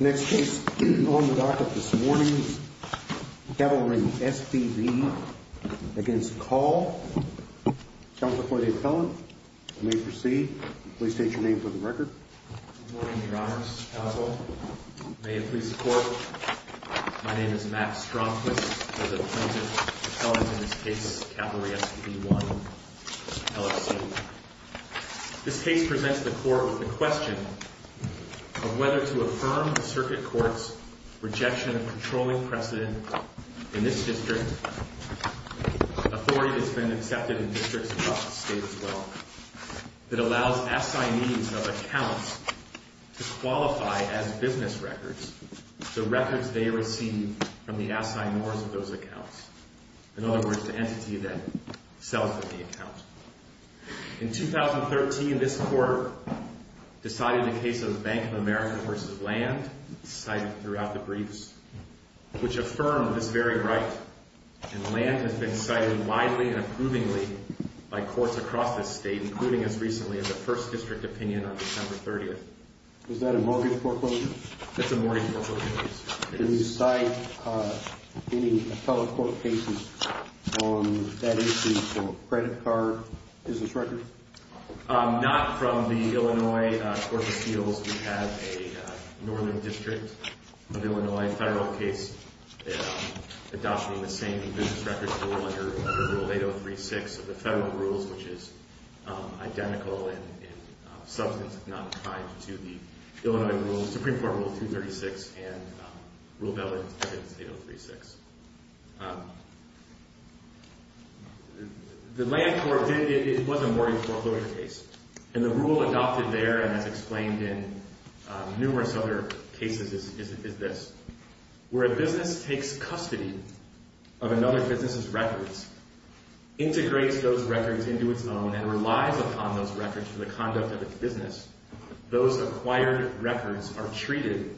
Next case on the docket this morning, Cavalry SPV against Call. Counsel for the appellant, you may proceed. Please state your name for the record. Good morning, Your Honors. Counsel, may it please the Court. My name is Matt Stromquist. I'm the appointed appellant in this case, Cavalry SPV I, LLC. This case presents the Court with the question of whether to affirm the Circuit Court's rejection of controlling precedent in this district, authority that's been accepted in districts across the state as well, that allows assignees of accounts to qualify as business records the records they receive from the assignors of those accounts. In other words, the entity that sells them the account. In 2013, this Court decided the case of Bank of America v. Land, cited throughout the briefs, which affirmed this very right, and Land has been cited widely and approvingly by courts across the state, including as recently as a First District opinion on December 30th. Is that a mortgage foreclosure? It's a mortgage foreclosure case. Do you cite any appellate court cases on that issue for credit card business records? Not from the Illinois Court of Appeals. We have a Northern District of Illinois federal case adopting the same business records rule under Rule 8036 of the federal rules, which is identical in substance, if not applied to the Illinois rule, Supreme Court Rule 236, and Rule of Evidence 8036. The Land Court did—it was a mortgage foreclosure case. And the rule adopted there and as explained in numerous other cases is this. Where a business takes custody of another business's records, integrates those records into its own, and relies upon those records for the conduct of its business, those acquired records are treated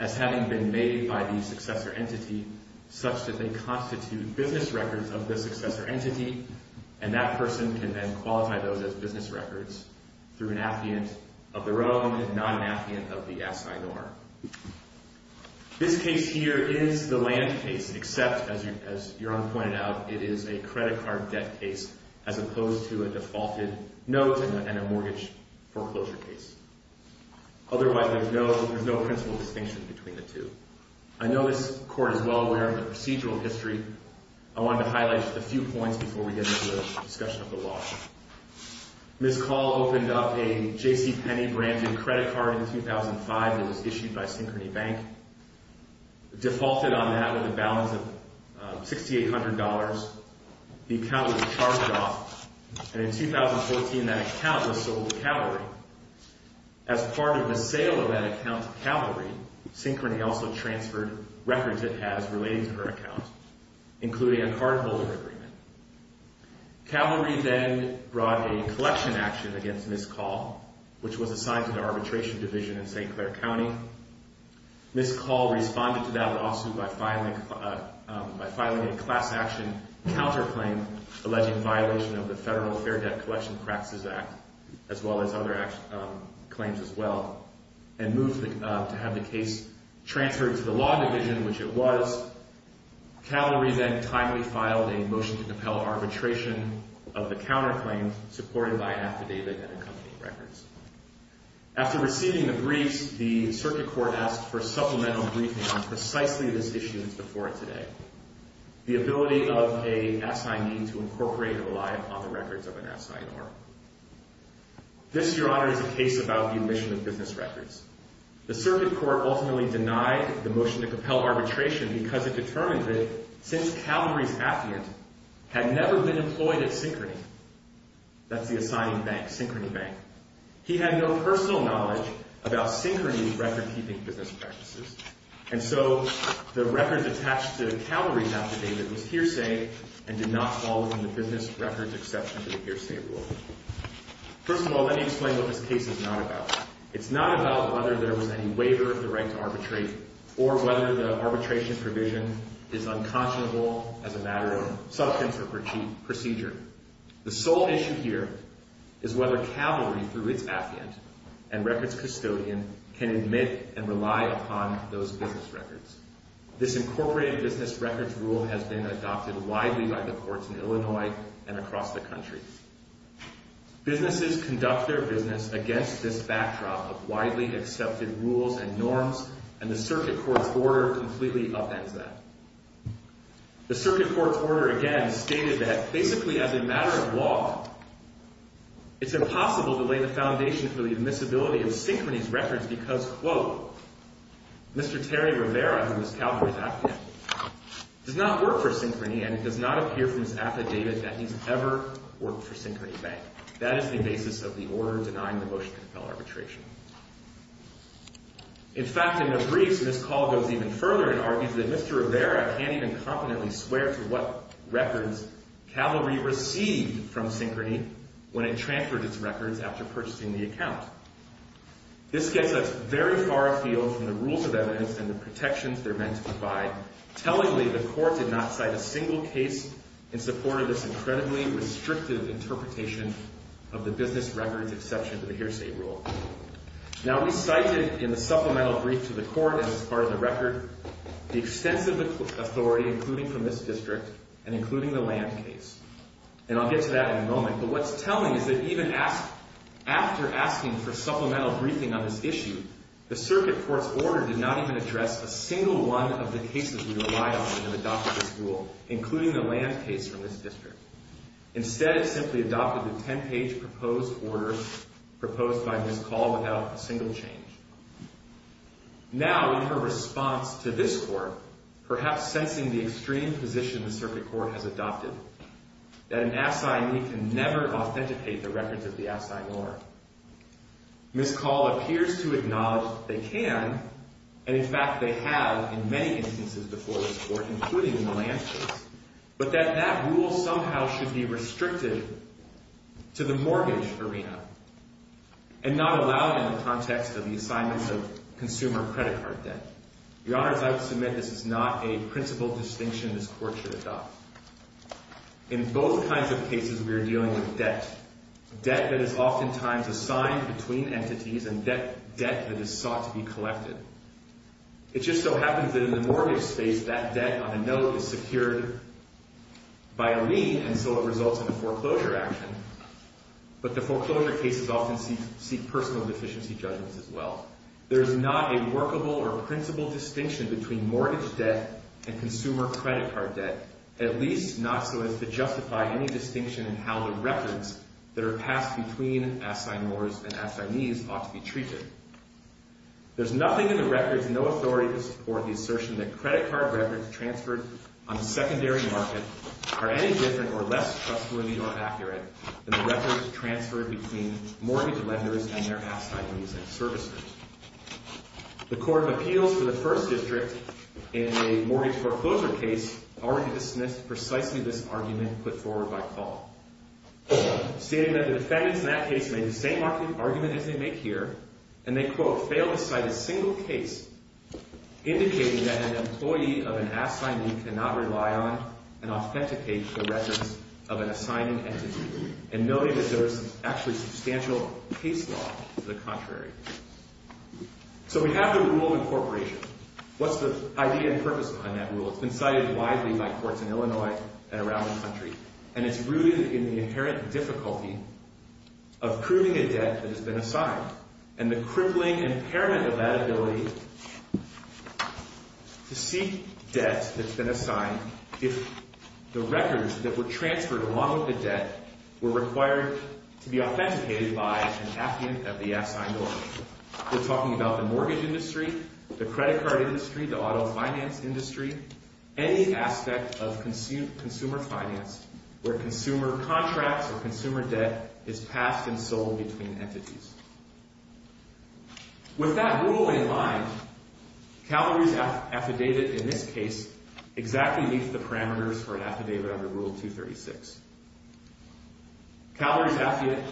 as having been made by the successor entity such that they constitute business records of the successor entity, and that person can then qualify those as business records through an affiant of their own, not an affiant of the assignor. This case here is the land case, except, as Yaron pointed out, it is a credit card debt case, as opposed to a defaulted note and a mortgage foreclosure case. Otherwise, there's no principal distinction between the two. I know this court is well aware of the procedural history. I wanted to highlight a few points before we get into the discussion of the law. Ms. Call opened up a J.C. Penney branded credit card in 2005 that was issued by Synchrony Bank, defaulted on that with a balance of $6,800. The account was charged off, and in 2014, that account was sold to Calvary. As part of the sale of that account to Calvary, Synchrony also transferred records it has relating to her account. including a cardholder agreement. Calvary then brought a collection action against Ms. Call, which was assigned to the Arbitration Division in St. Clair County. Ms. Call responded to that lawsuit by filing a class action counterclaim alleging violation of the Federal Fair Debt Collection Practices Act, as well as other claims as well, and moved to have the case transferred to the Law Division, which it was. Calvary then timely filed a motion to compel arbitration of the counterclaim supported by an affidavit and accompanying records. After receiving the briefs, the Circuit Court asked for supplemental briefing on precisely this issue that's before it today, the ability of an assignee to incorporate or rely on the records of an assignee. This, Your Honor, is a case about the omission of business records. The Circuit Court ultimately denied the motion to compel arbitration because it determined that, since Calvary's affidavit had never been employed at Synchrony, that's the assigning bank, Synchrony Bank, he had no personal knowledge about Synchrony's record-keeping business practices. And so the records attached to Calvary's affidavit was hearsay and did not fall within the business records exception to the hearsay rule. First of all, let me explain what this case is not about. It's not about whether there was any waiver of the right to arbitrate or whether the arbitration provision is unconscionable as a matter of substance or procedure. The sole issue here is whether Calvary, through its affiant and records custodian, can admit and rely upon those business records. This incorporated business records rule has been adopted widely by the courts in Illinois and across the country. Businesses conduct their business against this backdrop of widely accepted rules and norms, and the Circuit Court's order completely upends that. The Circuit Court's order, again, stated that basically as a matter of law, it's impossible to lay the foundation for the admissibility of Synchrony's records because, quote, Mr. Terry Rivera, who is Calvary's affiant, does not work for Synchrony, and it does not appear from his affidavit that he's ever worked for Synchrony Bank. That is the basis of the order denying the motion to compel arbitration. In fact, in the briefs, Ms. Call goes even further and argues that Mr. Rivera can't even competently swear to what records Calvary received from Synchrony when it transferred its records after purchasing the account. This gets us very far afield from the rules of evidence and the protections they're meant to provide. Tellingly, the court did not cite a single case in support of this incredibly restrictive interpretation of the business records exception to the hearsay rule. Now, we cited in the supplemental brief to the court, as is part of the record, the extensive authority, including from this district and including the land case. And I'll get to that in a moment, but what's telling is that even after asking for supplemental briefing on this issue, the circuit court's order did not even address a single one of the cases we relied on in adopting this rule, including the land case from this district. Instead, it simply adopted the 10-page proposed order proposed by Ms. Call without a single change. Now, in her response to this court, perhaps sensing the extreme position the circuit court has adopted, that an assignee can never authenticate the records of the assignee or Ms. Call appears to acknowledge that they can, and in fact they have in many instances before this court, including in the land case, but that that rule somehow should be restricted to the mortgage arena and not allowed in the context of the assignments of consumer credit card debt. Your Honors, I would submit this is not a principal distinction this court should adopt. In both kinds of cases, we are dealing with debt, debt that is oftentimes assigned between entities and debt that is sought to be collected. It just so happens that in the mortgage space, that debt on a note is secured by a lien and so it results in a foreclosure action, but the foreclosure cases often seek personal deficiency judgments as well. There is not a workable or principal distinction between mortgage debt and consumer credit card debt, at least not so as to justify any distinction in how the records that are passed between assignors and assignees ought to be treated. There's nothing in the records, no authority to support the assertion that credit card records transferred on secondary market are any different or less trustworthy or accurate than the records transferred between mortgage lenders and their assignees and servicers. The Court of Appeals for the First District in a mortgage foreclosure case already dismissed precisely this argument put forward by Call, stating that the defendants in that case made the same argument as they make here, and they, quote, failed to cite a single case indicating that an employee of an assignee cannot rely on and authenticate the records of an assigning entity, and noting that there is actually substantial case law to the contrary. So we have the rule incorporation. It's been cited widely by courts in Illinois and around the country, and it's rooted in the inherent difficulty of proving a debt that has been assigned, and the crippling impairment of that ability to seek debt that's been assigned if the records that were transferred along with the debt were required to be authenticated by an affluent of the assigned owner. We're talking about the mortgage industry, the credit card industry, the auto finance industry, any aspect of consumer finance where consumer contracts or consumer debt is passed and sold between entities. With that rule in mind, Calories Affidavit in this case exactly meets the parameters for an affidavit under Rule 236. Calories Affidavit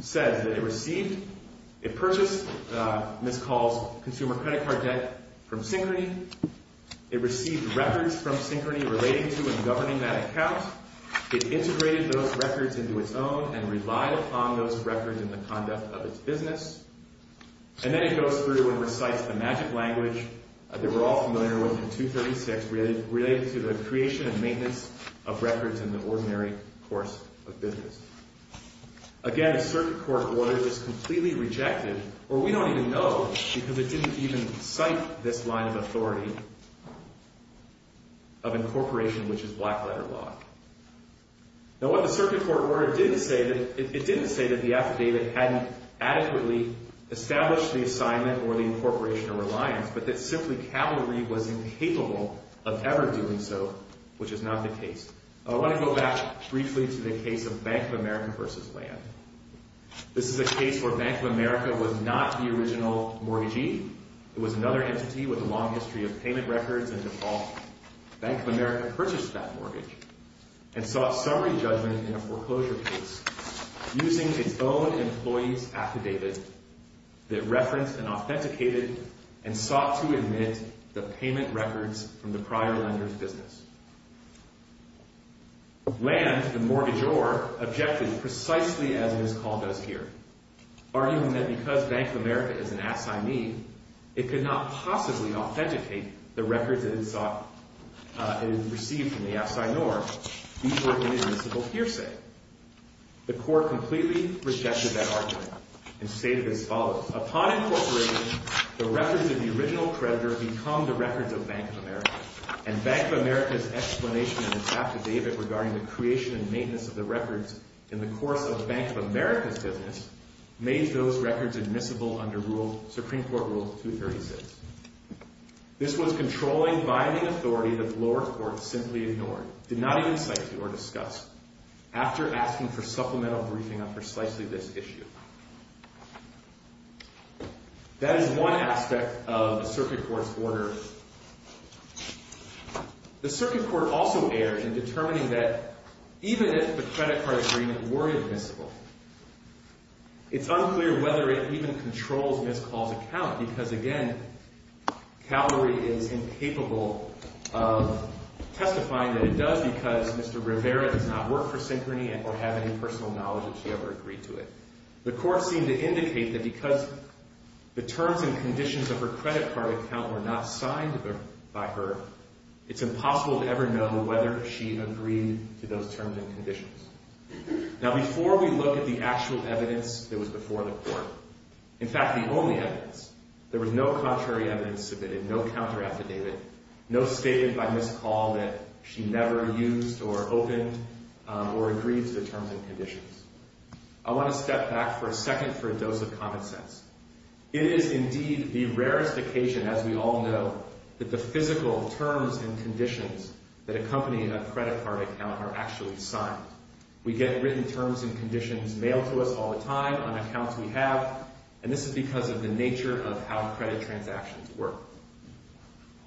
says that it received, it purchased Ms. Call's consumer credit card debt from Synchrony. It received records from Synchrony relating to and governing that account. It integrated those records into its own and relied upon those records in the conduct of its business. And then it goes through and recites the magic language that we're all familiar with in 236 related to the creation and maintenance of records in the ordinary course of business. Again, a circuit court order is completely rejected, or we don't even know because it didn't even cite this line of authority of incorporation, which is black letter law. Now, what the circuit court order didn't say, it didn't say that the affidavit hadn't adequately established the assignment or the incorporation or reliance, but that simply Calorie was incapable of ever doing so, which is not the case. I want to go back briefly to the case of Bank of America versus Land. This is a case where Bank of America was not the original mortgagee. It was another entity with a long history of payment records and default. Bank of America purchased that mortgage and sought summary judgment in a foreclosure case using its own employees affidavit that referenced and authenticated and sought to admit the payment records from the prior lender's business. Land, the mortgagor, objected precisely as Ms. Call does here, arguing that because Bank of America is an assignee, it could not possibly authenticate the records it had received from the assigneor before an admissible hearsay. The court completely rejected that argument and stated as follows. Upon incorporating, the records of the original creditor become the records of Bank of America, and Bank of America's explanation in its affidavit regarding the creation and maintenance of the records in the course of Bank of America's business made those records admissible under Supreme Court Rule 236. This was controlling binding authority that the lower court simply ignored, did not even cite to or discuss, after asking for supplemental briefing on precisely this issue. That is one aspect of the circuit court's order. The circuit court also erred in determining that even if the credit card agreement were admissible, it's unclear whether it even controls Ms. Call's account. Because again, Calgary is incapable of testifying that it does because Mr. Rivera does not work for Synchrony or have any personal knowledge that she ever agreed to it. The court seemed to indicate that because the terms and conditions of her credit card account were not signed by her, it's impossible to ever know whether she agreed to those terms and conditions. Now, before we look at the actual evidence that was before the court, in fact, the only evidence, there was no contrary evidence submitted, no counter-affidavit, no statement by Ms. Call that she never used or opened or agreed to the terms and conditions. I want to step back for a second for a dose of common sense. It is indeed the rarest occasion, as we all know, that the physical terms and conditions that accompany a credit card account are actually signed. We get written terms and conditions mailed to us all the time on accounts we have, and this is because of the nature of how credit transactions work.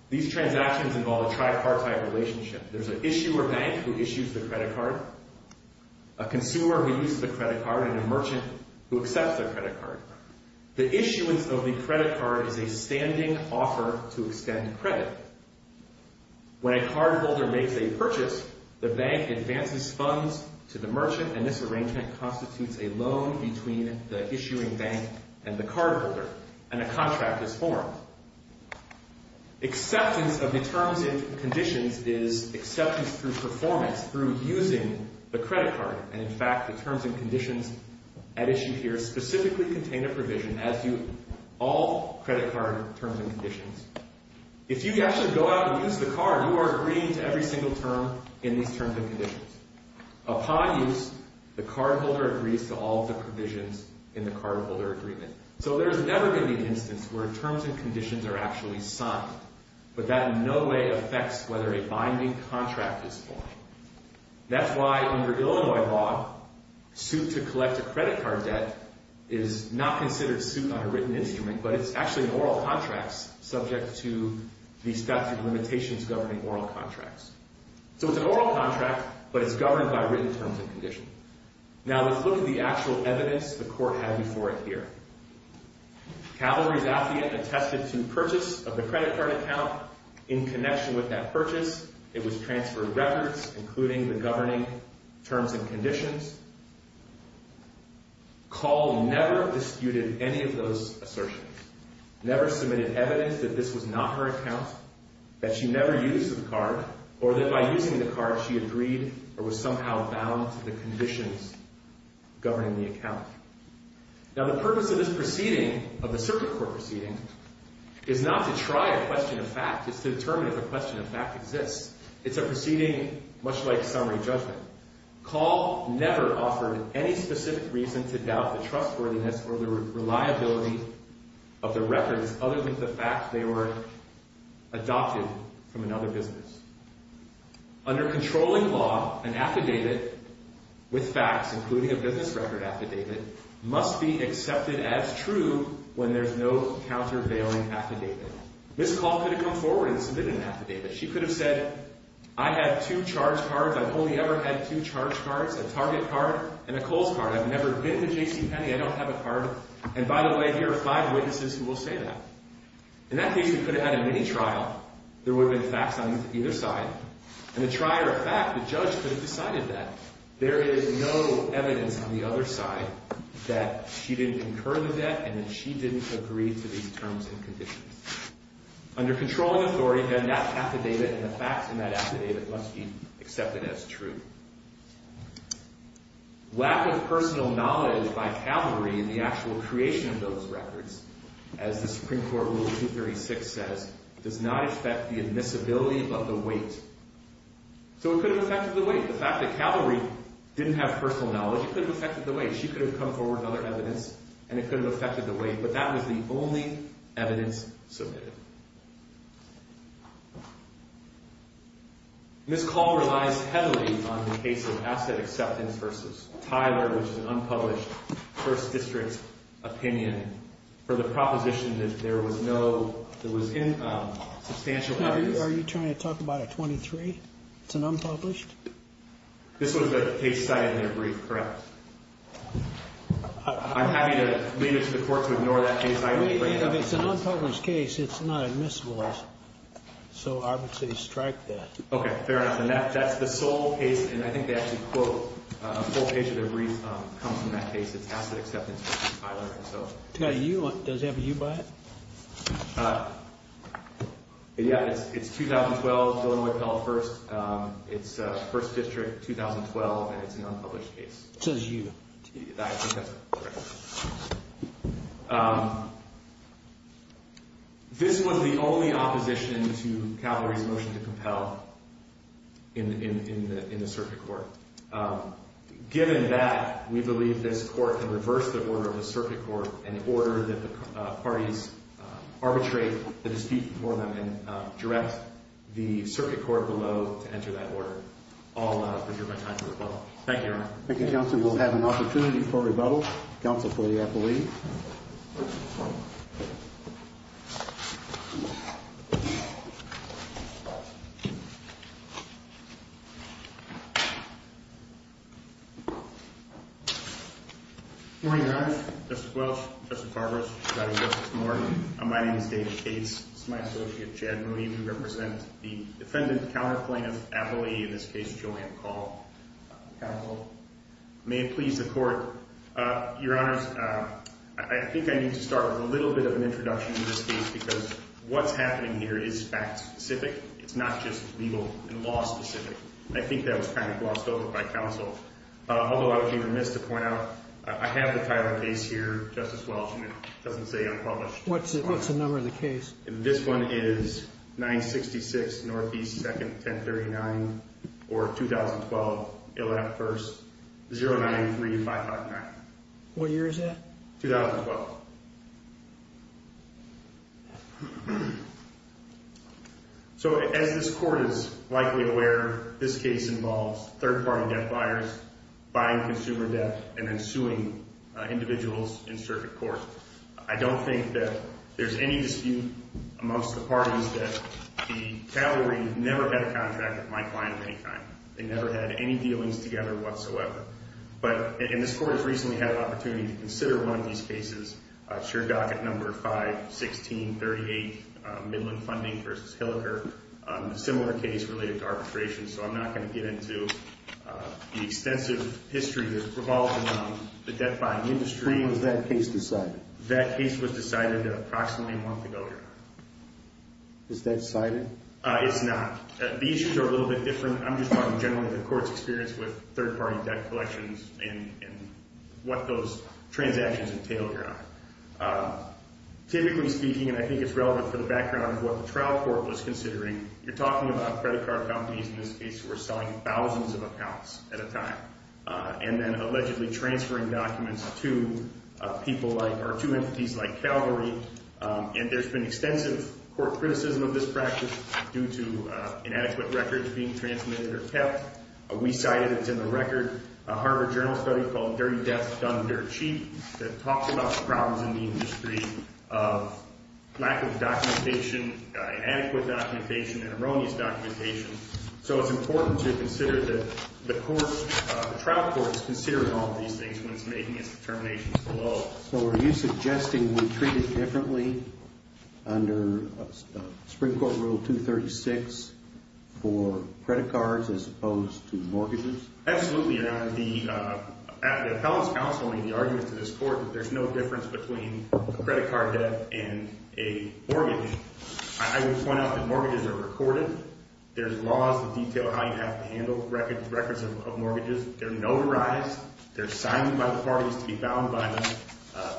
These transactions involve a tripartite relationship. There's an issuer bank who issues the credit card, a consumer who uses the credit card, and a merchant who accepts their credit card. The issuance of the credit card is a standing offer to extend credit. When a cardholder makes a purchase, the bank advances funds to the merchant, and this arrangement constitutes a loan between the issuing bank and the cardholder, and a contract is formed. Acceptance of the terms and conditions is acceptance through performance, through using the credit card. And in fact, the terms and conditions at issue here specifically contain a provision, as do all credit card terms and conditions. If you actually go out and use the card, you are agreeing to every single term in these terms and conditions. Upon use, the cardholder agrees to all the provisions in the cardholder agreement. So there's never been an instance where terms and conditions are actually signed, but that in no way affects whether a binding contract is formed. That's why under Illinois law, suit to collect a credit card debt is not considered suit on a written instrument, but it's actually an oral contract subject to the statute of limitations governing oral contracts. So it's an oral contract, but it's governed by written terms and conditions. Now, let's look at the actual evidence the court had before it here. Calvary's affidavit attested to purchase of the credit card account in connection with that purchase. It was transferred records, including the governing terms and conditions. Call never disputed any of those assertions, never submitted evidence that this was not her account, that she never used the card, or that by using the card she agreed or was somehow bound to the conditions governing the account. Now, the purpose of this proceeding, of the circuit court proceeding, is not to try a question of fact. It's to determine if a question of fact exists. It's a proceeding much like summary judgment. Call never offered any specific reason to doubt the trustworthiness or the reliability of the records other than the fact they were adopted from another business. Under controlling law, an affidavit with facts, including a business record affidavit, must be accepted as true when there's no countervailing affidavit. Ms. Call could have come forward and submitted an affidavit. She could have said, I have two charge cards. I've only ever had two charge cards, a Target card and a Kohl's card. I've never been to JCPenney. I don't have a card. And by the way, here are five witnesses who will say that. In that case, we could have had a mini-trial. There would have been facts on either side. And a trier of fact, the judge could have decided that. There is no evidence on the other side that she didn't incur the debt and that she didn't agree to these terms and conditions. Under controlling authority, then that affidavit and the facts in that affidavit must be accepted as true. Lack of personal knowledge by Calvary in the actual creation of those records, as the Supreme Court Rule 236 says, does not affect the admissibility of the weight. So it could have affected the weight. The fact that Calvary didn't have personal knowledge, it could have affected the weight. She could have come forward with other evidence, and it could have affected the weight. But that was the only evidence submitted. This call relies heavily on the case of asset acceptance versus Tyler, which is an unpublished First District opinion, for the proposition that there was no substantial evidence. Are you trying to talk about a 23? It's an unpublished? This was a case cited in a brief, correct? I'm happy to leave it to the court to ignore that case. It's an unpublished case. It's not admissible. So I would say strike that. Okay, fair enough. And that's the sole case, and I think they actually quote a full page of their brief, comes from that case. It's asset acceptance versus Tyler. Does it have a U by it? Yeah, it's 2012, Dillon-Wayfell first. It's First District, 2012, and it's an unpublished case. It says U. I think that's correct. This was the only opposition to Cavalry's motion to compel in the circuit court. Given that, we believe this court can reverse the order of the circuit court in order that the parties arbitrate the dispute for them and direct the circuit court below to enter that order. I'll leave my time to rebuttal. Thank you, Your Honor. Thank you, Counsel. We'll have an opportunity for rebuttal. Counsel for the appellee. Good morning, Your Honor. Justice Welch, Justice Carver, and Justice Moore. My name is David Cates. This is my associate, Chad Moody. We represent the defendant counter plaintiff appellee, in this case, Julian Call. Counsel. May it please the court. Your Honors, I think I need to start with a little bit of an introduction to this case because what's happening here is fact specific. It's not just legal and law specific. I think that was kind of glossed over by counsel. Although I would be remiss to point out, I have the title of the case here, Justice Welch, and it doesn't say unpublished. What's the number of the case? This one is 966 Northeast 2nd, 1039, or 2012, 11th 1st, 093559. What year is that? 2012. So, as this court is likely aware, this case involves third party debt buyers buying consumer debt and then suing individuals in circuit court. I don't think that there's any dispute amongst the parties that the Calgary never had a contract with my client of any kind. They never had any dealings together whatsoever. But, and this court has recently had an opportunity to consider one of these cases. It's your docket number 51638, Midland Funding v. Hilliker, a similar case related to arbitration. So, I'm not going to get into the extensive history that's revolved around the debt buying industry. When was that case decided? That case was decided approximately a month ago. Is that cited? It's not. These are a little bit different. I'm just talking generally the court's experience with third party debt collections and what those transactions entailed. Typically speaking, and I think it's relevant for the background of what the trial court was considering, you're talking about credit card companies in this case who were selling thousands of accounts at a time and then allegedly transferring documents to people like, or to entities like Calgary. And there's been extensive court criticism of this practice due to inadequate records being transmitted or kept. We cited, it's in the record, a Harvard Journal study called Dirty Debt Done Dirt Cheap that talked about the problems in the industry of lack of documentation, inadequate documentation, and erroneous documentation. So, it's important to consider that the trial court is considering all these things when it's making its determinations below. So, are you suggesting we treat it differently under Supreme Court Rule 236 for credit cards as opposed to mortgages? Absolutely, Your Honor. The appellant's counsel made the argument to this court that there's no difference between a credit card debt and a mortgage. I would point out that mortgages are recorded. There's laws that detail how you have to handle records of mortgages. They're notarized. They're signed by the parties to be bound by them.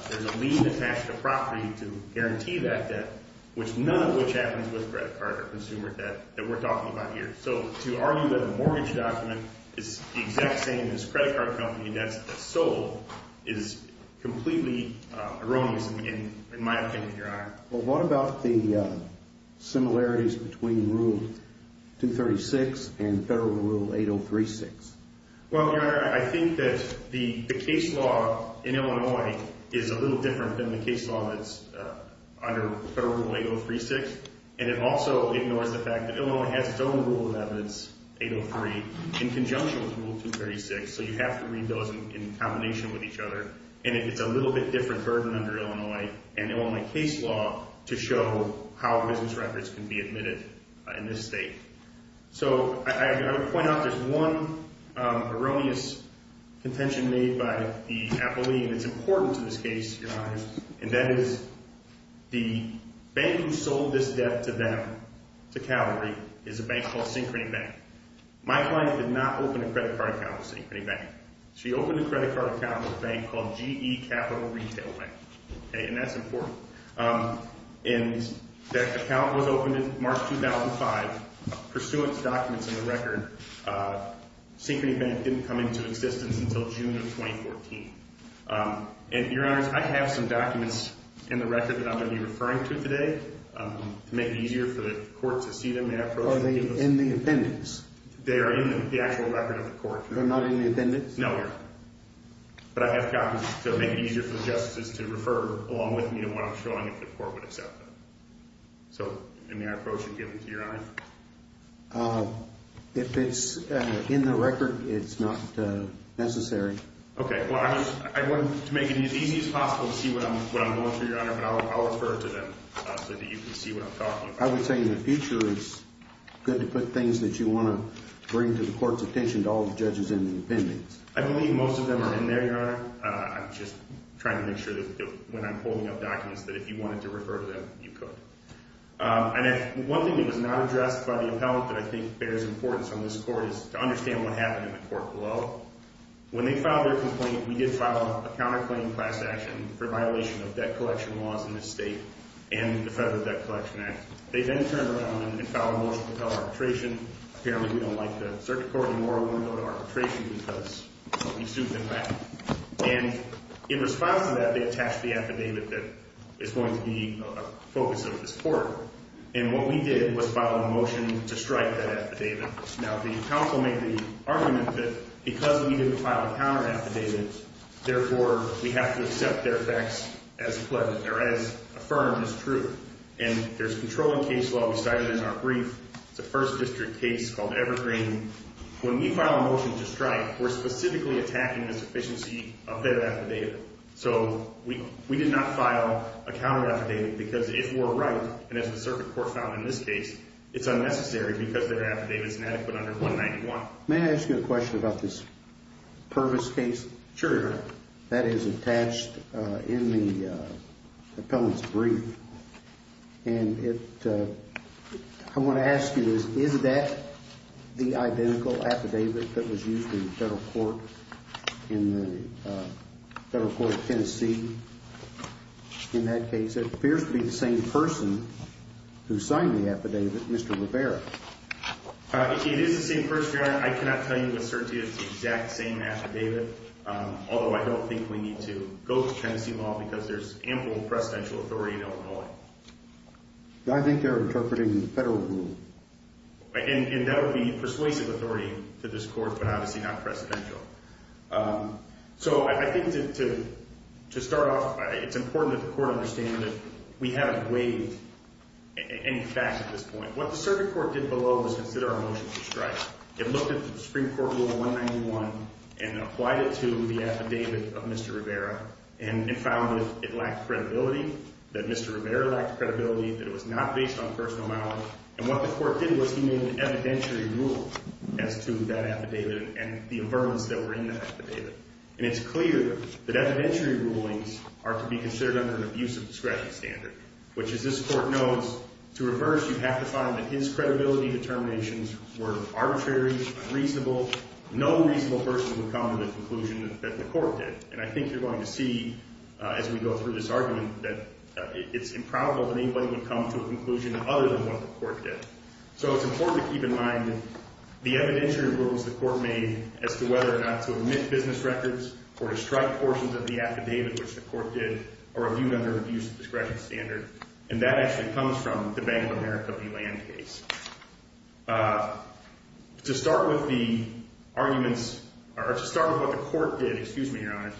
There's a lien attached to the property to guarantee that debt, which none of which happens with credit card or consumer debt that we're talking about here. So, to argue that a mortgage document is the exact same as a credit card company that's sold is completely erroneous in my opinion, Your Honor. Well, what about the similarities between Rule 236 and Federal Rule 8036? Well, Your Honor, I think that the case law in Illinois is a little different than the case law that's under Federal Rule 8036, and it also ignores the fact that Illinois has its own rule of evidence, 803, in conjunction with Rule 236. So, you have to read those in combination with each other, and it's a little bit different burden under Illinois. And Illinois case law to show how business records can be admitted in this state. So, I would point out there's one erroneous contention made by the appellee, and it's important to this case, Your Honor, and that is the bank who sold this debt to them, to Calgary, is a bank called Synchrony Bank. My client did not open a credit card account with Synchrony Bank. She opened a credit card account with a bank called GE Capital Retail Bank. Okay, and that's important. And that account was opened in March 2005. Pursuant to documents in the record, Synchrony Bank didn't come into existence until June of 2014. And, Your Honor, I have some documents in the record that I'm going to be referring to today to make it easier for the court to see them. Are they in the appendix? They are in the actual record of the court. They're not in the appendix? No, Your Honor. But I have copies to make it easier for the justices to refer along with me to what I'm showing if the court would accept them. So, may I approach and give them to Your Honor? If it's in the record, it's not necessary. Okay, well, I wanted to make it as easy as possible to see what I'm going through, Your Honor, but I'll refer to them so that you can see what I'm talking about. I would say in the future it's good to put things that you want to bring to the court's attention to all the judges in the appendix. I believe most of them are in there, Your Honor. I'm just trying to make sure that when I'm holding up documents that if you wanted to refer to them, you could. And one thing that was not addressed by the appellate that I think bears importance on this court is to understand what happened in the court below. When they filed their complaint, we did file a counterclaim class action for violation of debt collection laws in this state and the Federal Debt Collection Act. They then turned around and filed a motion to file arbitration. Apparently, we don't like the circuit court anymore. We want to go to arbitration because we sued them back. And in response to that, they attached the affidavit that is going to be a focus of this court. And what we did was file a motion to strike that affidavit. Now, the counsel made the argument that because we didn't file a counteraffidavit, therefore, we have to accept their facts as pleasant or as affirmed as true. And there's a controlling case law we cited in our brief. It's a First District case called Evergreen. When we file a motion to strike, we're specifically attacking the sufficiency of their affidavit. So we did not file a counteraffidavit because if we're right, and as the circuit court found in this case, it's unnecessary because their affidavit is inadequate under 191. May I ask you a question about this Pervis case? Sure. That is attached in the appellant's brief. And I want to ask you, is that the identical affidavit that was used in the federal court in Tennessee? In that case, it appears to be the same person who signed the affidavit, Mr. Rivera. It is the same person. I cannot tell you with certainty it's the exact same affidavit. Although I don't think we need to go to Tennessee law because there's ample presidential authority in Illinois. I think they're interpreting the federal rule. And that would be persuasive authority to this court, but obviously not presidential. So I think to start off, it's important that the court understand that we haven't waived any facts at this point. What the circuit court did below was consider our motion to strike. It looked at the Supreme Court Rule 191 and applied it to the affidavit of Mr. Rivera. And it found that it lacked credibility, that Mr. Rivera lacked credibility, that it was not based on personal knowledge. And what the court did was he made an evidentiary rule as to that affidavit and the affirmance that were in that affidavit. And it's clear that evidentiary rulings are to be considered under an abuse of discretion standard, which as this court knows, to reverse you have to find that his credibility determinations were arbitrary, unreasonable. No reasonable person would come to the conclusion that the court did. And I think you're going to see as we go through this argument that it's improbable that anybody would come to a conclusion other than what the court did. So it's important to keep in mind the evidentiary rulings the court made as to whether or not to omit business records or to strike portions of the affidavit which the court did or review them under abuse of discretion standard. And that actually comes from the Bank of America v. Land case. To start with the arguments or to start with what the court did, excuse me, Your Honor,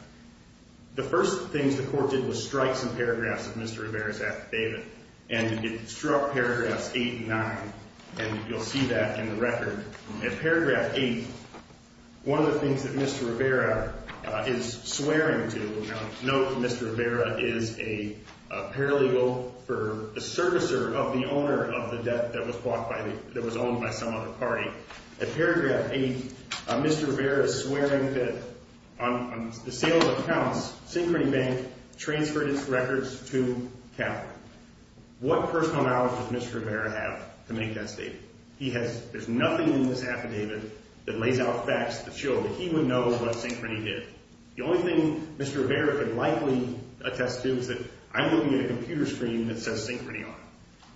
the first things the court did was strike some paragraphs of Mr. Rivera's affidavit. And it struck paragraphs 8 and 9, and you'll see that in the record. At paragraph 8, one of the things that Mr. Rivera is swearing to, note that Mr. Rivera is a paralegal for the servicer of the owner of the debt that was bought by the, that was owned by some other party. At paragraph 8, Mr. Rivera is swearing that on the sale of accounts, Synchrony Bank transferred its records to Cal. What personal knowledge does Mr. Rivera have to make that statement? He has, there's nothing in this affidavit that lays out facts that show that he would know what Synchrony did. The only thing Mr. Rivera can likely attest to is that I'm looking at a computer screen that says Synchrony on it.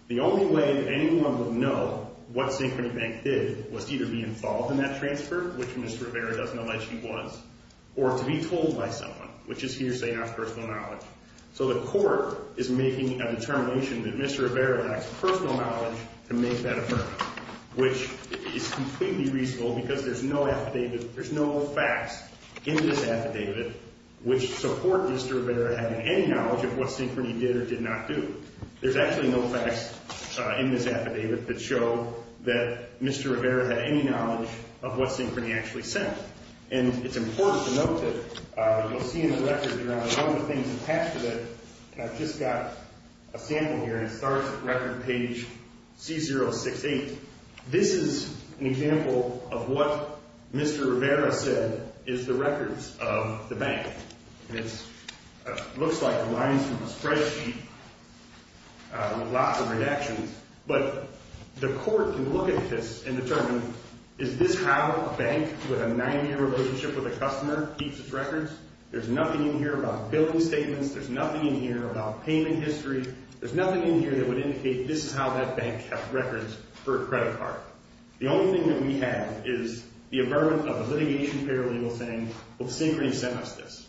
The only way that anyone would know what Synchrony Bank did was to either be involved in that transfer, which Mr. Rivera doesn't allege he was, or to be told by someone, which is hearsay, not personal knowledge. So the court is making a determination that Mr. Rivera lacks personal knowledge to make that affidavit, which is completely reasonable because there's no affidavit, there's no facts in this affidavit, which support Mr. Rivera having any knowledge of what Synchrony did or did not do. There's actually no facts in this affidavit that show that Mr. Rivera had any knowledge of what Synchrony actually sent. And it's important to note that you'll see in the record there are a number of things attached to that. And I've just got a sample here, and it starts at record page C068. This is an example of what Mr. Rivera said is the records of the bank. And it looks like the lines from his spreadsheet with lots of redactions. But the court can look at this and determine, is this how a bank with a nine-year relationship with a customer keeps its records? There's nothing in here about billing statements. There's nothing in here about payment history. There's nothing in here that would indicate this is how that bank kept records for a credit card. The only thing that we have is the aberrant of a litigation paralegal saying, well, Synchrony sent us this.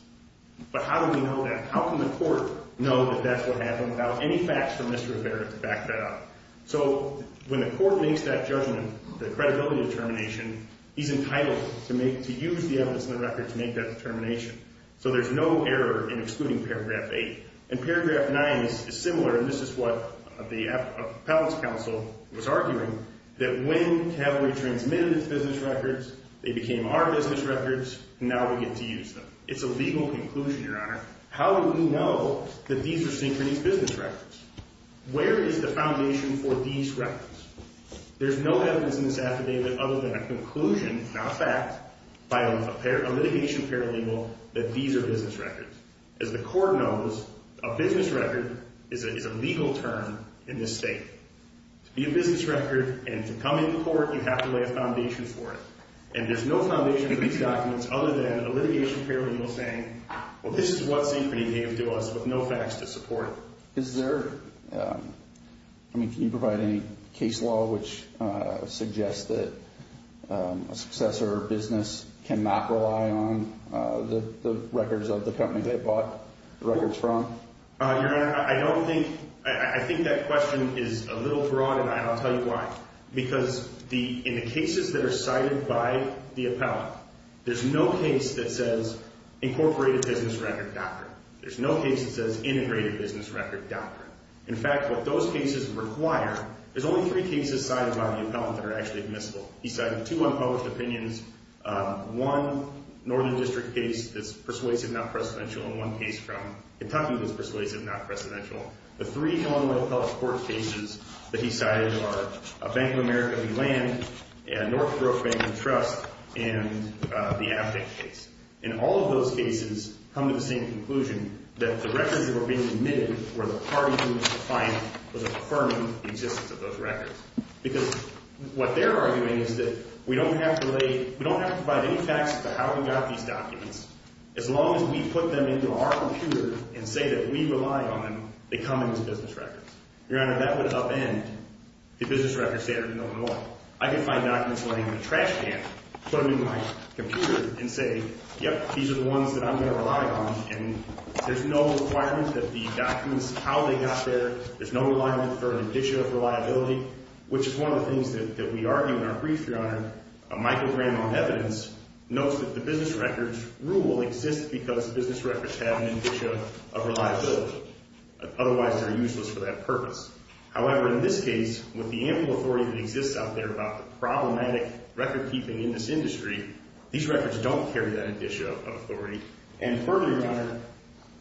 But how do we know that? How can the court know that that's what happened without any facts from Mr. Rivera to back that up? So when the court makes that judgment, the credibility determination, he's entitled to use the evidence in the record to make that determination. So there's no error in excluding paragraph 8. And paragraph 9 is similar, and this is what the appellate's counsel was arguing, that when Calvary transmitted its business records, they became our business records. Now we get to use them. It's a legal conclusion, Your Honor. How do we know that these are Synchrony's business records? Where is the foundation for these records? There's no evidence in this affidavit other than a conclusion, not a fact, by a litigation paralegal that these are business records. As the court knows, a business record is a legal term in this state. To be a business record and to come into court, you have to lay a foundation for it. And there's no foundation for these documents other than a litigation paralegal saying, well, this is what Synchrony gave to us with no facts to support it. Is there – I mean, can you provide any case law which suggests that a successor or business cannot rely on the records of the company they bought the records from? Your Honor, I don't think – I think that question is a little broad, and I'll tell you why. Because in the cases that are cited by the appellant, there's no case that says incorporated business record doctrine. There's no case that says integrated business record doctrine. In fact, what those cases require – there's only three cases cited by the appellant that are actually admissible. He cited two unpublished opinions, one Northern District case that's persuasive, not precedential, and one case from Kentucky that's persuasive, not precedential. The three Illinois Appellate Court cases that he cited are Bank of America v. Land, Northbrook Bank and Trust, and the Abnix case. And all of those cases come to the same conclusion that the records that were being admitted were the parties in which the client was affirming the existence of those records. Because what they're arguing is that we don't have to lay – we don't have to provide any taxes to how we got these documents. As long as we put them into our computer and say that we rely on them, they come in as business records. Your Honor, that would upend the business records standard in Illinois. I could find documents laying in a trash can, put them in my computer, and say, yep, these are the ones that I'm going to rely on. And there's no requirement that the documents – how they got there, there's no requirement for an indicia of reliability, which is one of the things that we argue in our brief, Your Honor. Michael Graham, on evidence, notes that the business records rule exists because the business records have an indicia of reliability. Otherwise, they're useless for that purpose. However, in this case, with the ample authority that exists out there about the problematic recordkeeping in this industry, these records don't carry that indicia of authority. And further, Your Honor,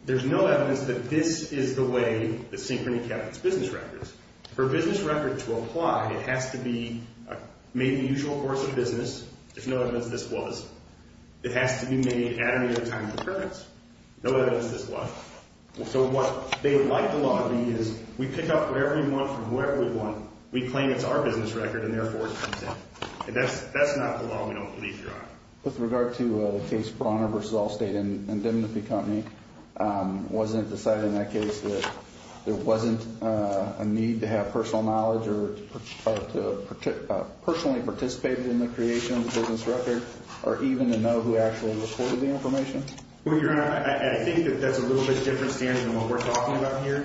there's no evidence that this is the way the SYNCHRONY kept its business records. For a business record to apply, it has to be made in the usual course of business. There's no evidence this was. It has to be made at any other time of occurrence. No evidence this was. So what they would like the law to be is we pick up whatever we want from wherever we want, we claim it's our business record, and therefore it comes in. That's not the law we don't believe, Your Honor. With regard to the case Brawner v. Allstate and Dignity Company, wasn't it decided in that case that there wasn't a need to have personal knowledge or to personally participate in the creation of the business record or even to know who actually reported the information? Well, Your Honor, I think that that's a little bit different standard than what we're talking about here.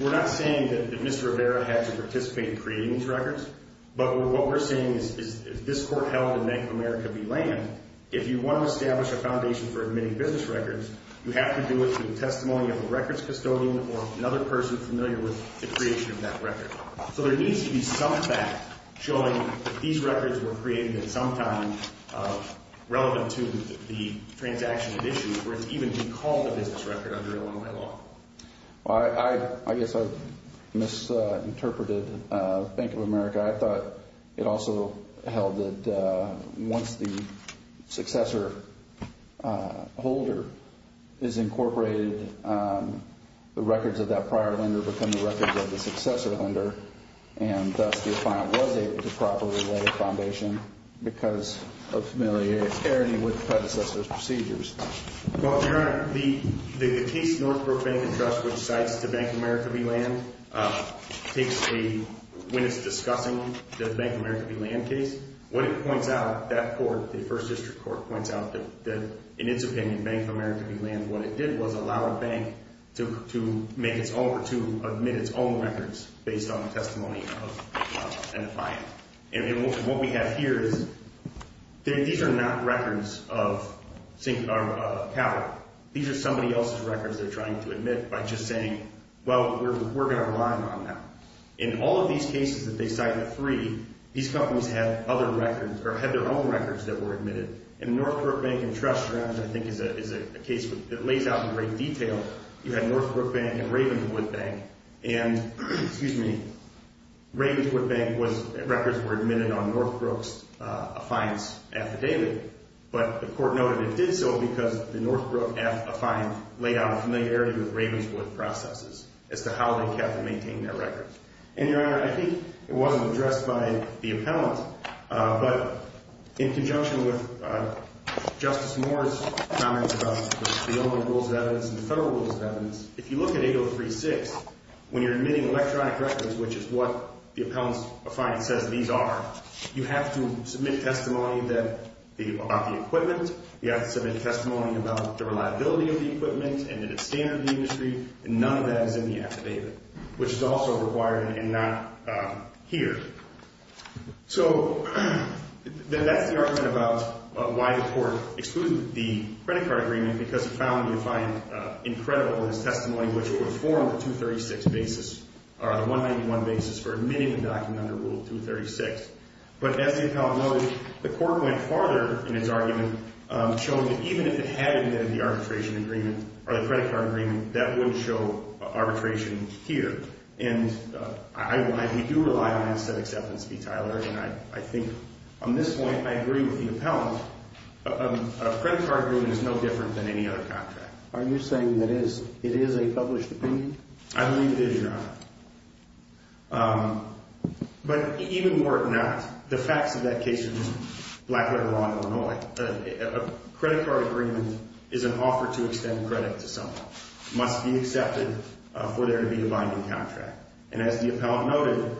We're not saying that Mr. Rivera had to participate in creating these records, but what we're saying is if this court held in Bank of America v. Lane, if you want to establish a foundation for admitting business records, you have to do it through the testimony of a records custodian or another person familiar with the creation of that record. So there needs to be some fact showing that these records were created at some time relevant to the transaction at issue or even to be called a business record under Illinois law. I guess I've misinterpreted Bank of America. I thought it also held that once the successor holder is incorporated, the records of that prior lender become the records of the successor lender, and thus the client was able to properly lay the foundation because of familiarity with the predecessor's procedures. Well, Your Honor, the case Northbrook Bank and Trust, which cites the Bank of America v. Land, takes a, when it's discussing the Bank of America v. Land case, what it points out, that court, the First District Court, points out that in its opinion, Bank of America v. Land, what it did was allow a bank to make its own, or to admit its own records based on the testimony of a client. And what we have here is, these are not records of capital. These are somebody else's records they're trying to admit by just saying, well, we're going to rely on that. In all of these cases that they cite, the three, these companies had other records, or had their own records that were admitted. And Northbrook Bank and Trust, I think, is a case that lays out in great detail. You had Northbrook Bank and Ravenswood Bank. And Ravenswood Bank was, records were admitted on Northbrook's affiance affidavit. But the court noted it did so because the Northbrook affiance laid out a familiarity with Ravenswood processes as to how they kept and maintained their records. And, Your Honor, I think it wasn't addressed by the appellant. But in conjunction with Justice Moore's comments about the only rules of evidence and the federal rules of evidence, if you look at 803-6, when you're admitting electronic records, which is what the appellant's affiance says these are, you have to submit testimony about the equipment. You have to submit testimony about the reliability of the equipment and that it's standard in the industry. And none of that is in the affidavit, which is also required and not here. So then that's the argument about why the court excluded the credit card agreement because the appellant would find incredible in his testimony, which it would have formed a 236 basis or a 191 basis for admitting the document under Rule 236. But as the appellant noted, the court went farther in its argument, showing that even if it had admitted the arbitration agreement or the credit card agreement, that wouldn't show arbitration here. And I do rely on that set acceptance fee, Tyler, and I think on this point I agree with the appellant. A credit card agreement is no different than any other contract. Are you saying that it is a published opinion? I believe it is, Your Honor. But even were it not, the facts of that case are just black-letter law in Illinois. A credit card agreement is an offer to extend credit to someone. It must be accepted for there to be a binding contract. And as the appellant noted,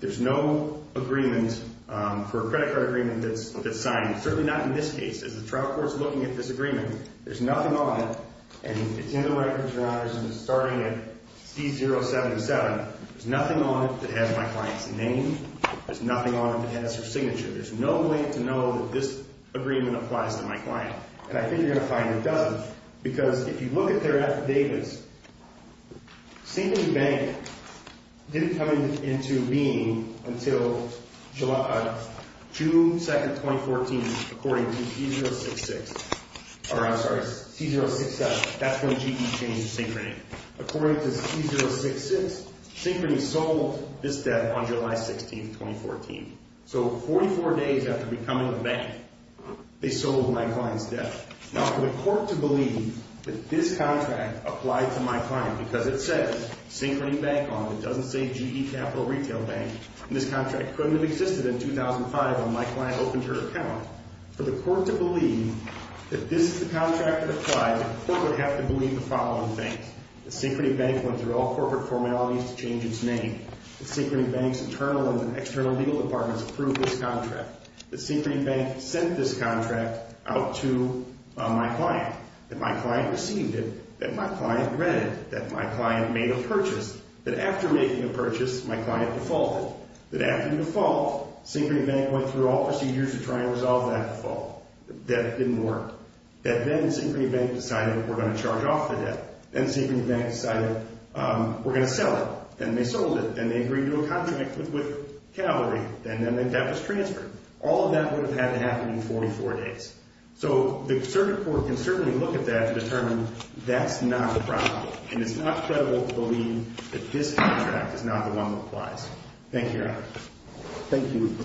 there's no agreement for a credit card agreement that's signed, certainly not in this case, as the trial court's looking at this agreement. There's nothing on it, and it's in the records, Your Honor, starting at C077. There's nothing on it that has my client's name. There's nothing on it that has her signature. There's no way to know that this agreement applies to my client. And I think you're going to find it doesn't, because if you look at their affidavits, Synchrony Bank didn't come into being until June 2, 2014, according to C066. Or, I'm sorry, C067. That's when GE changed Synchrony. According to C066, Synchrony sold this debt on July 16, 2014. So 44 days after becoming a bank, they sold my client's debt. Now, for the court to believe that this contract applied to my client, because it says Synchrony Bank on it. It doesn't say GE Capital Retail Bank. And this contract couldn't have existed in 2005 when my client opened her account. For the court to believe that this is the contract that applied, the court would have to believe the following things. The Synchrony Bank went through all corporate formalities to change its name. The Synchrony Bank's internal and external legal departments approved this contract. The Synchrony Bank sent this contract out to my client. My client received it. My client read it. My client made a purchase. After making a purchase, my client defaulted. After the default, Synchrony Bank went through all procedures to try and resolve that default. That didn't work. Then Synchrony Bank decided we're going to charge off the debt. Then Synchrony Bank decided we're going to sell it. Then they sold it. Then they agreed to a contract with Calgary. Then the debt was transferred. All of that would have had to happen in 44 days. So the circuit court can certainly look at that to determine that's not the problem. And it's not credible to believe that this contract is not the one that applies. Thank you, Your Honor. Thank you.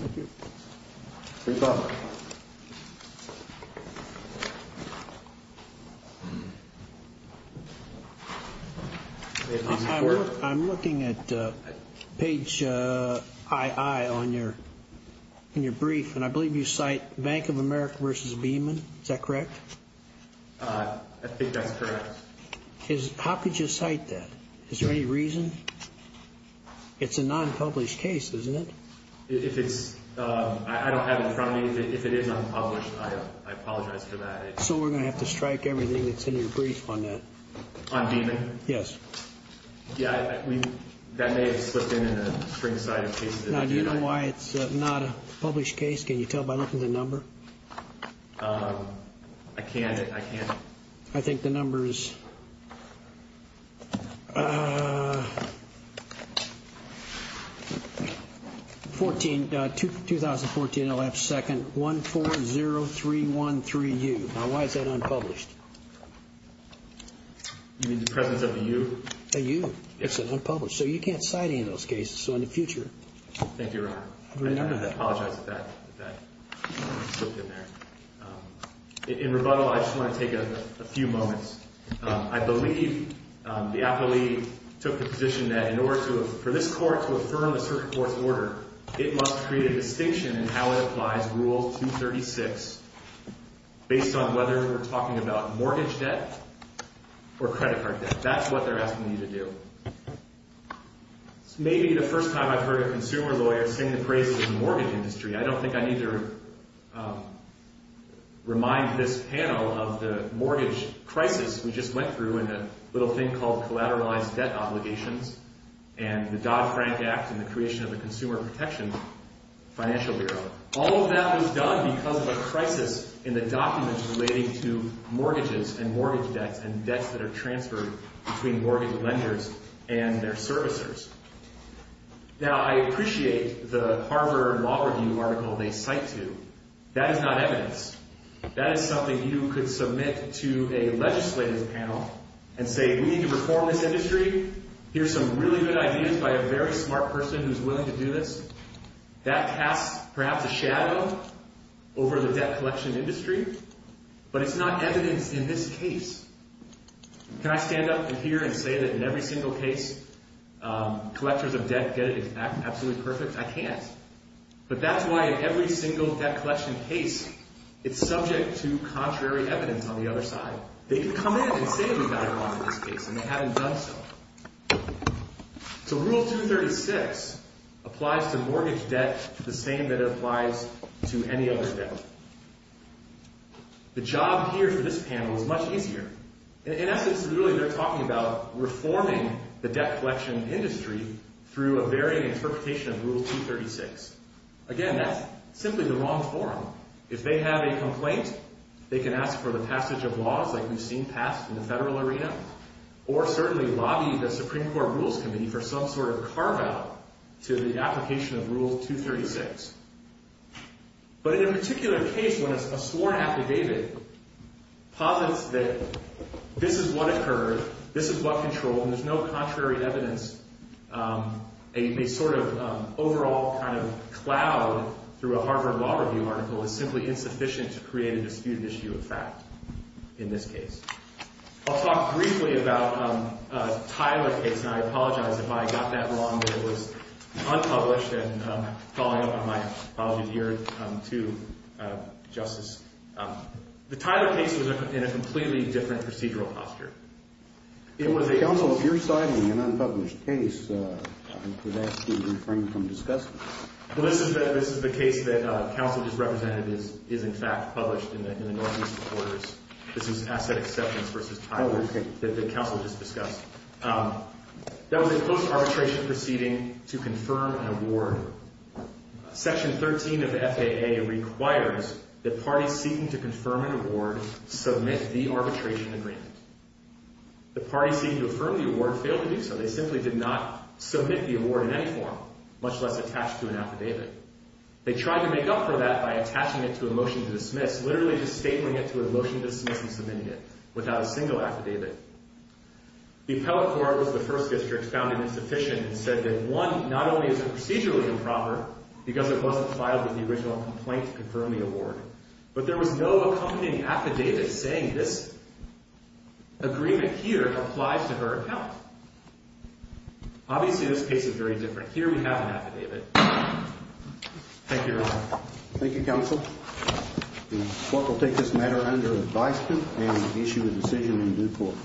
No problem. Thank you. I'm looking at page II in your brief, and I believe you cite Bank of America v. Beeman. Is that correct? I think that's correct. How could you cite that? Is there any reason? It's a non-published case, isn't it? I don't have it in front of me. If it is unpublished, I apologize for that. So we're going to have to strike everything that's in your brief on that? On Beeman? Yes. Yeah, that may have slipped in in a spring-sided case. Now, do you know why it's not a published case? Can you tell by looking at the number? I can't. I think the number is 2014-11-2nd-140313-U. Now, why is that unpublished? You mean the presence of a U? A U. It's unpublished. So you can't cite any of those cases in the future. Thank you, Your Honor. I apologize if that slipped in there. In rebuttal, I just want to take a few moments. I believe the appellee took the position that in order for this court to affirm the circuit court's order, it must create a distinction in how it applies Rule 236 based on whether we're talking about mortgage debt or credit card debt. That's what they're asking you to do. This may be the first time I've heard a consumer lawyer sing the praises of the mortgage industry. I don't think I need to remind this panel of the mortgage crisis we just went through and the little thing called collateralized debt obligations and the Dodd-Frank Act and the creation of the Consumer Protection Financial Bureau. All of that was done because of a crisis in the documents relating to mortgages and mortgage debts and debts that are transferred between mortgage lenders and their servicers. Now, I appreciate the Harvard Law Review article they cite to. That is not evidence. That is something you could submit to a legislative panel and say, We need to reform this industry. Here's some really good ideas by a very smart person who's willing to do this. That casts perhaps a shadow over the debt collection industry, but it's not evidence in this case. Can I stand up in here and say that in every single case collectors of debt get it absolutely perfect? I can't. But that's why in every single debt collection case, it's subject to contrary evidence on the other side. They could come in and say we got it wrong in this case, and they haven't done so. So Rule 236 applies to mortgage debt the same that it applies to any other debt. The job here for this panel is much easier. In essence, really they're talking about reforming the debt collection industry through a varying interpretation of Rule 236. Again, that's simply the wrong form. If they have a complaint, they can ask for the passage of laws like we've seen passed in the federal arena or certainly lobby the Supreme Court Rules Committee for some sort of carve-out to the application of Rule 236. But in a particular case, when a sworn affidavit posits that this is what occurred, this is what controlled, and there's no contrary evidence, a sort of overall kind of cloud through a Harvard Law Review article is simply insufficient to create a disputed issue of fact in this case. I'll talk briefly about the Tyler case, and I apologize if I got that wrong. It was unpublished, and following up on my apologies here to Justice, the Tyler case was in a completely different procedural posture. It was a… Counsel, if you're citing an unpublished case, I would ask you to refrain from discussing it. Well, this is the case that counsel just represented is in fact published in the Northeast Reporters. This is asset acceptance versus Tyler that the counsel just discussed. That was a close arbitration proceeding to confirm an award. Section 13 of the FAA requires that parties seeking to confirm an award submit the arbitration agreement. The parties seeking to affirm the award failed to do so. They simply did not submit the award in any form, much less attach to an affidavit. They tried to make up for that by attaching it to a motion to dismiss, literally just stapling it to a motion to dismiss and submitting it without a single affidavit. The appellate court was the first district found it insufficient and said that one, not only is the procedure was improper because it wasn't filed with the original complaint to confirm the award, but there was no accompanying affidavit saying this agreement here applies to her account. Obviously, this case is very different. Here we have an affidavit. Thank you, Your Honor. Thank you, counsel. The court will take this matter under advisement and issue a decision in due course.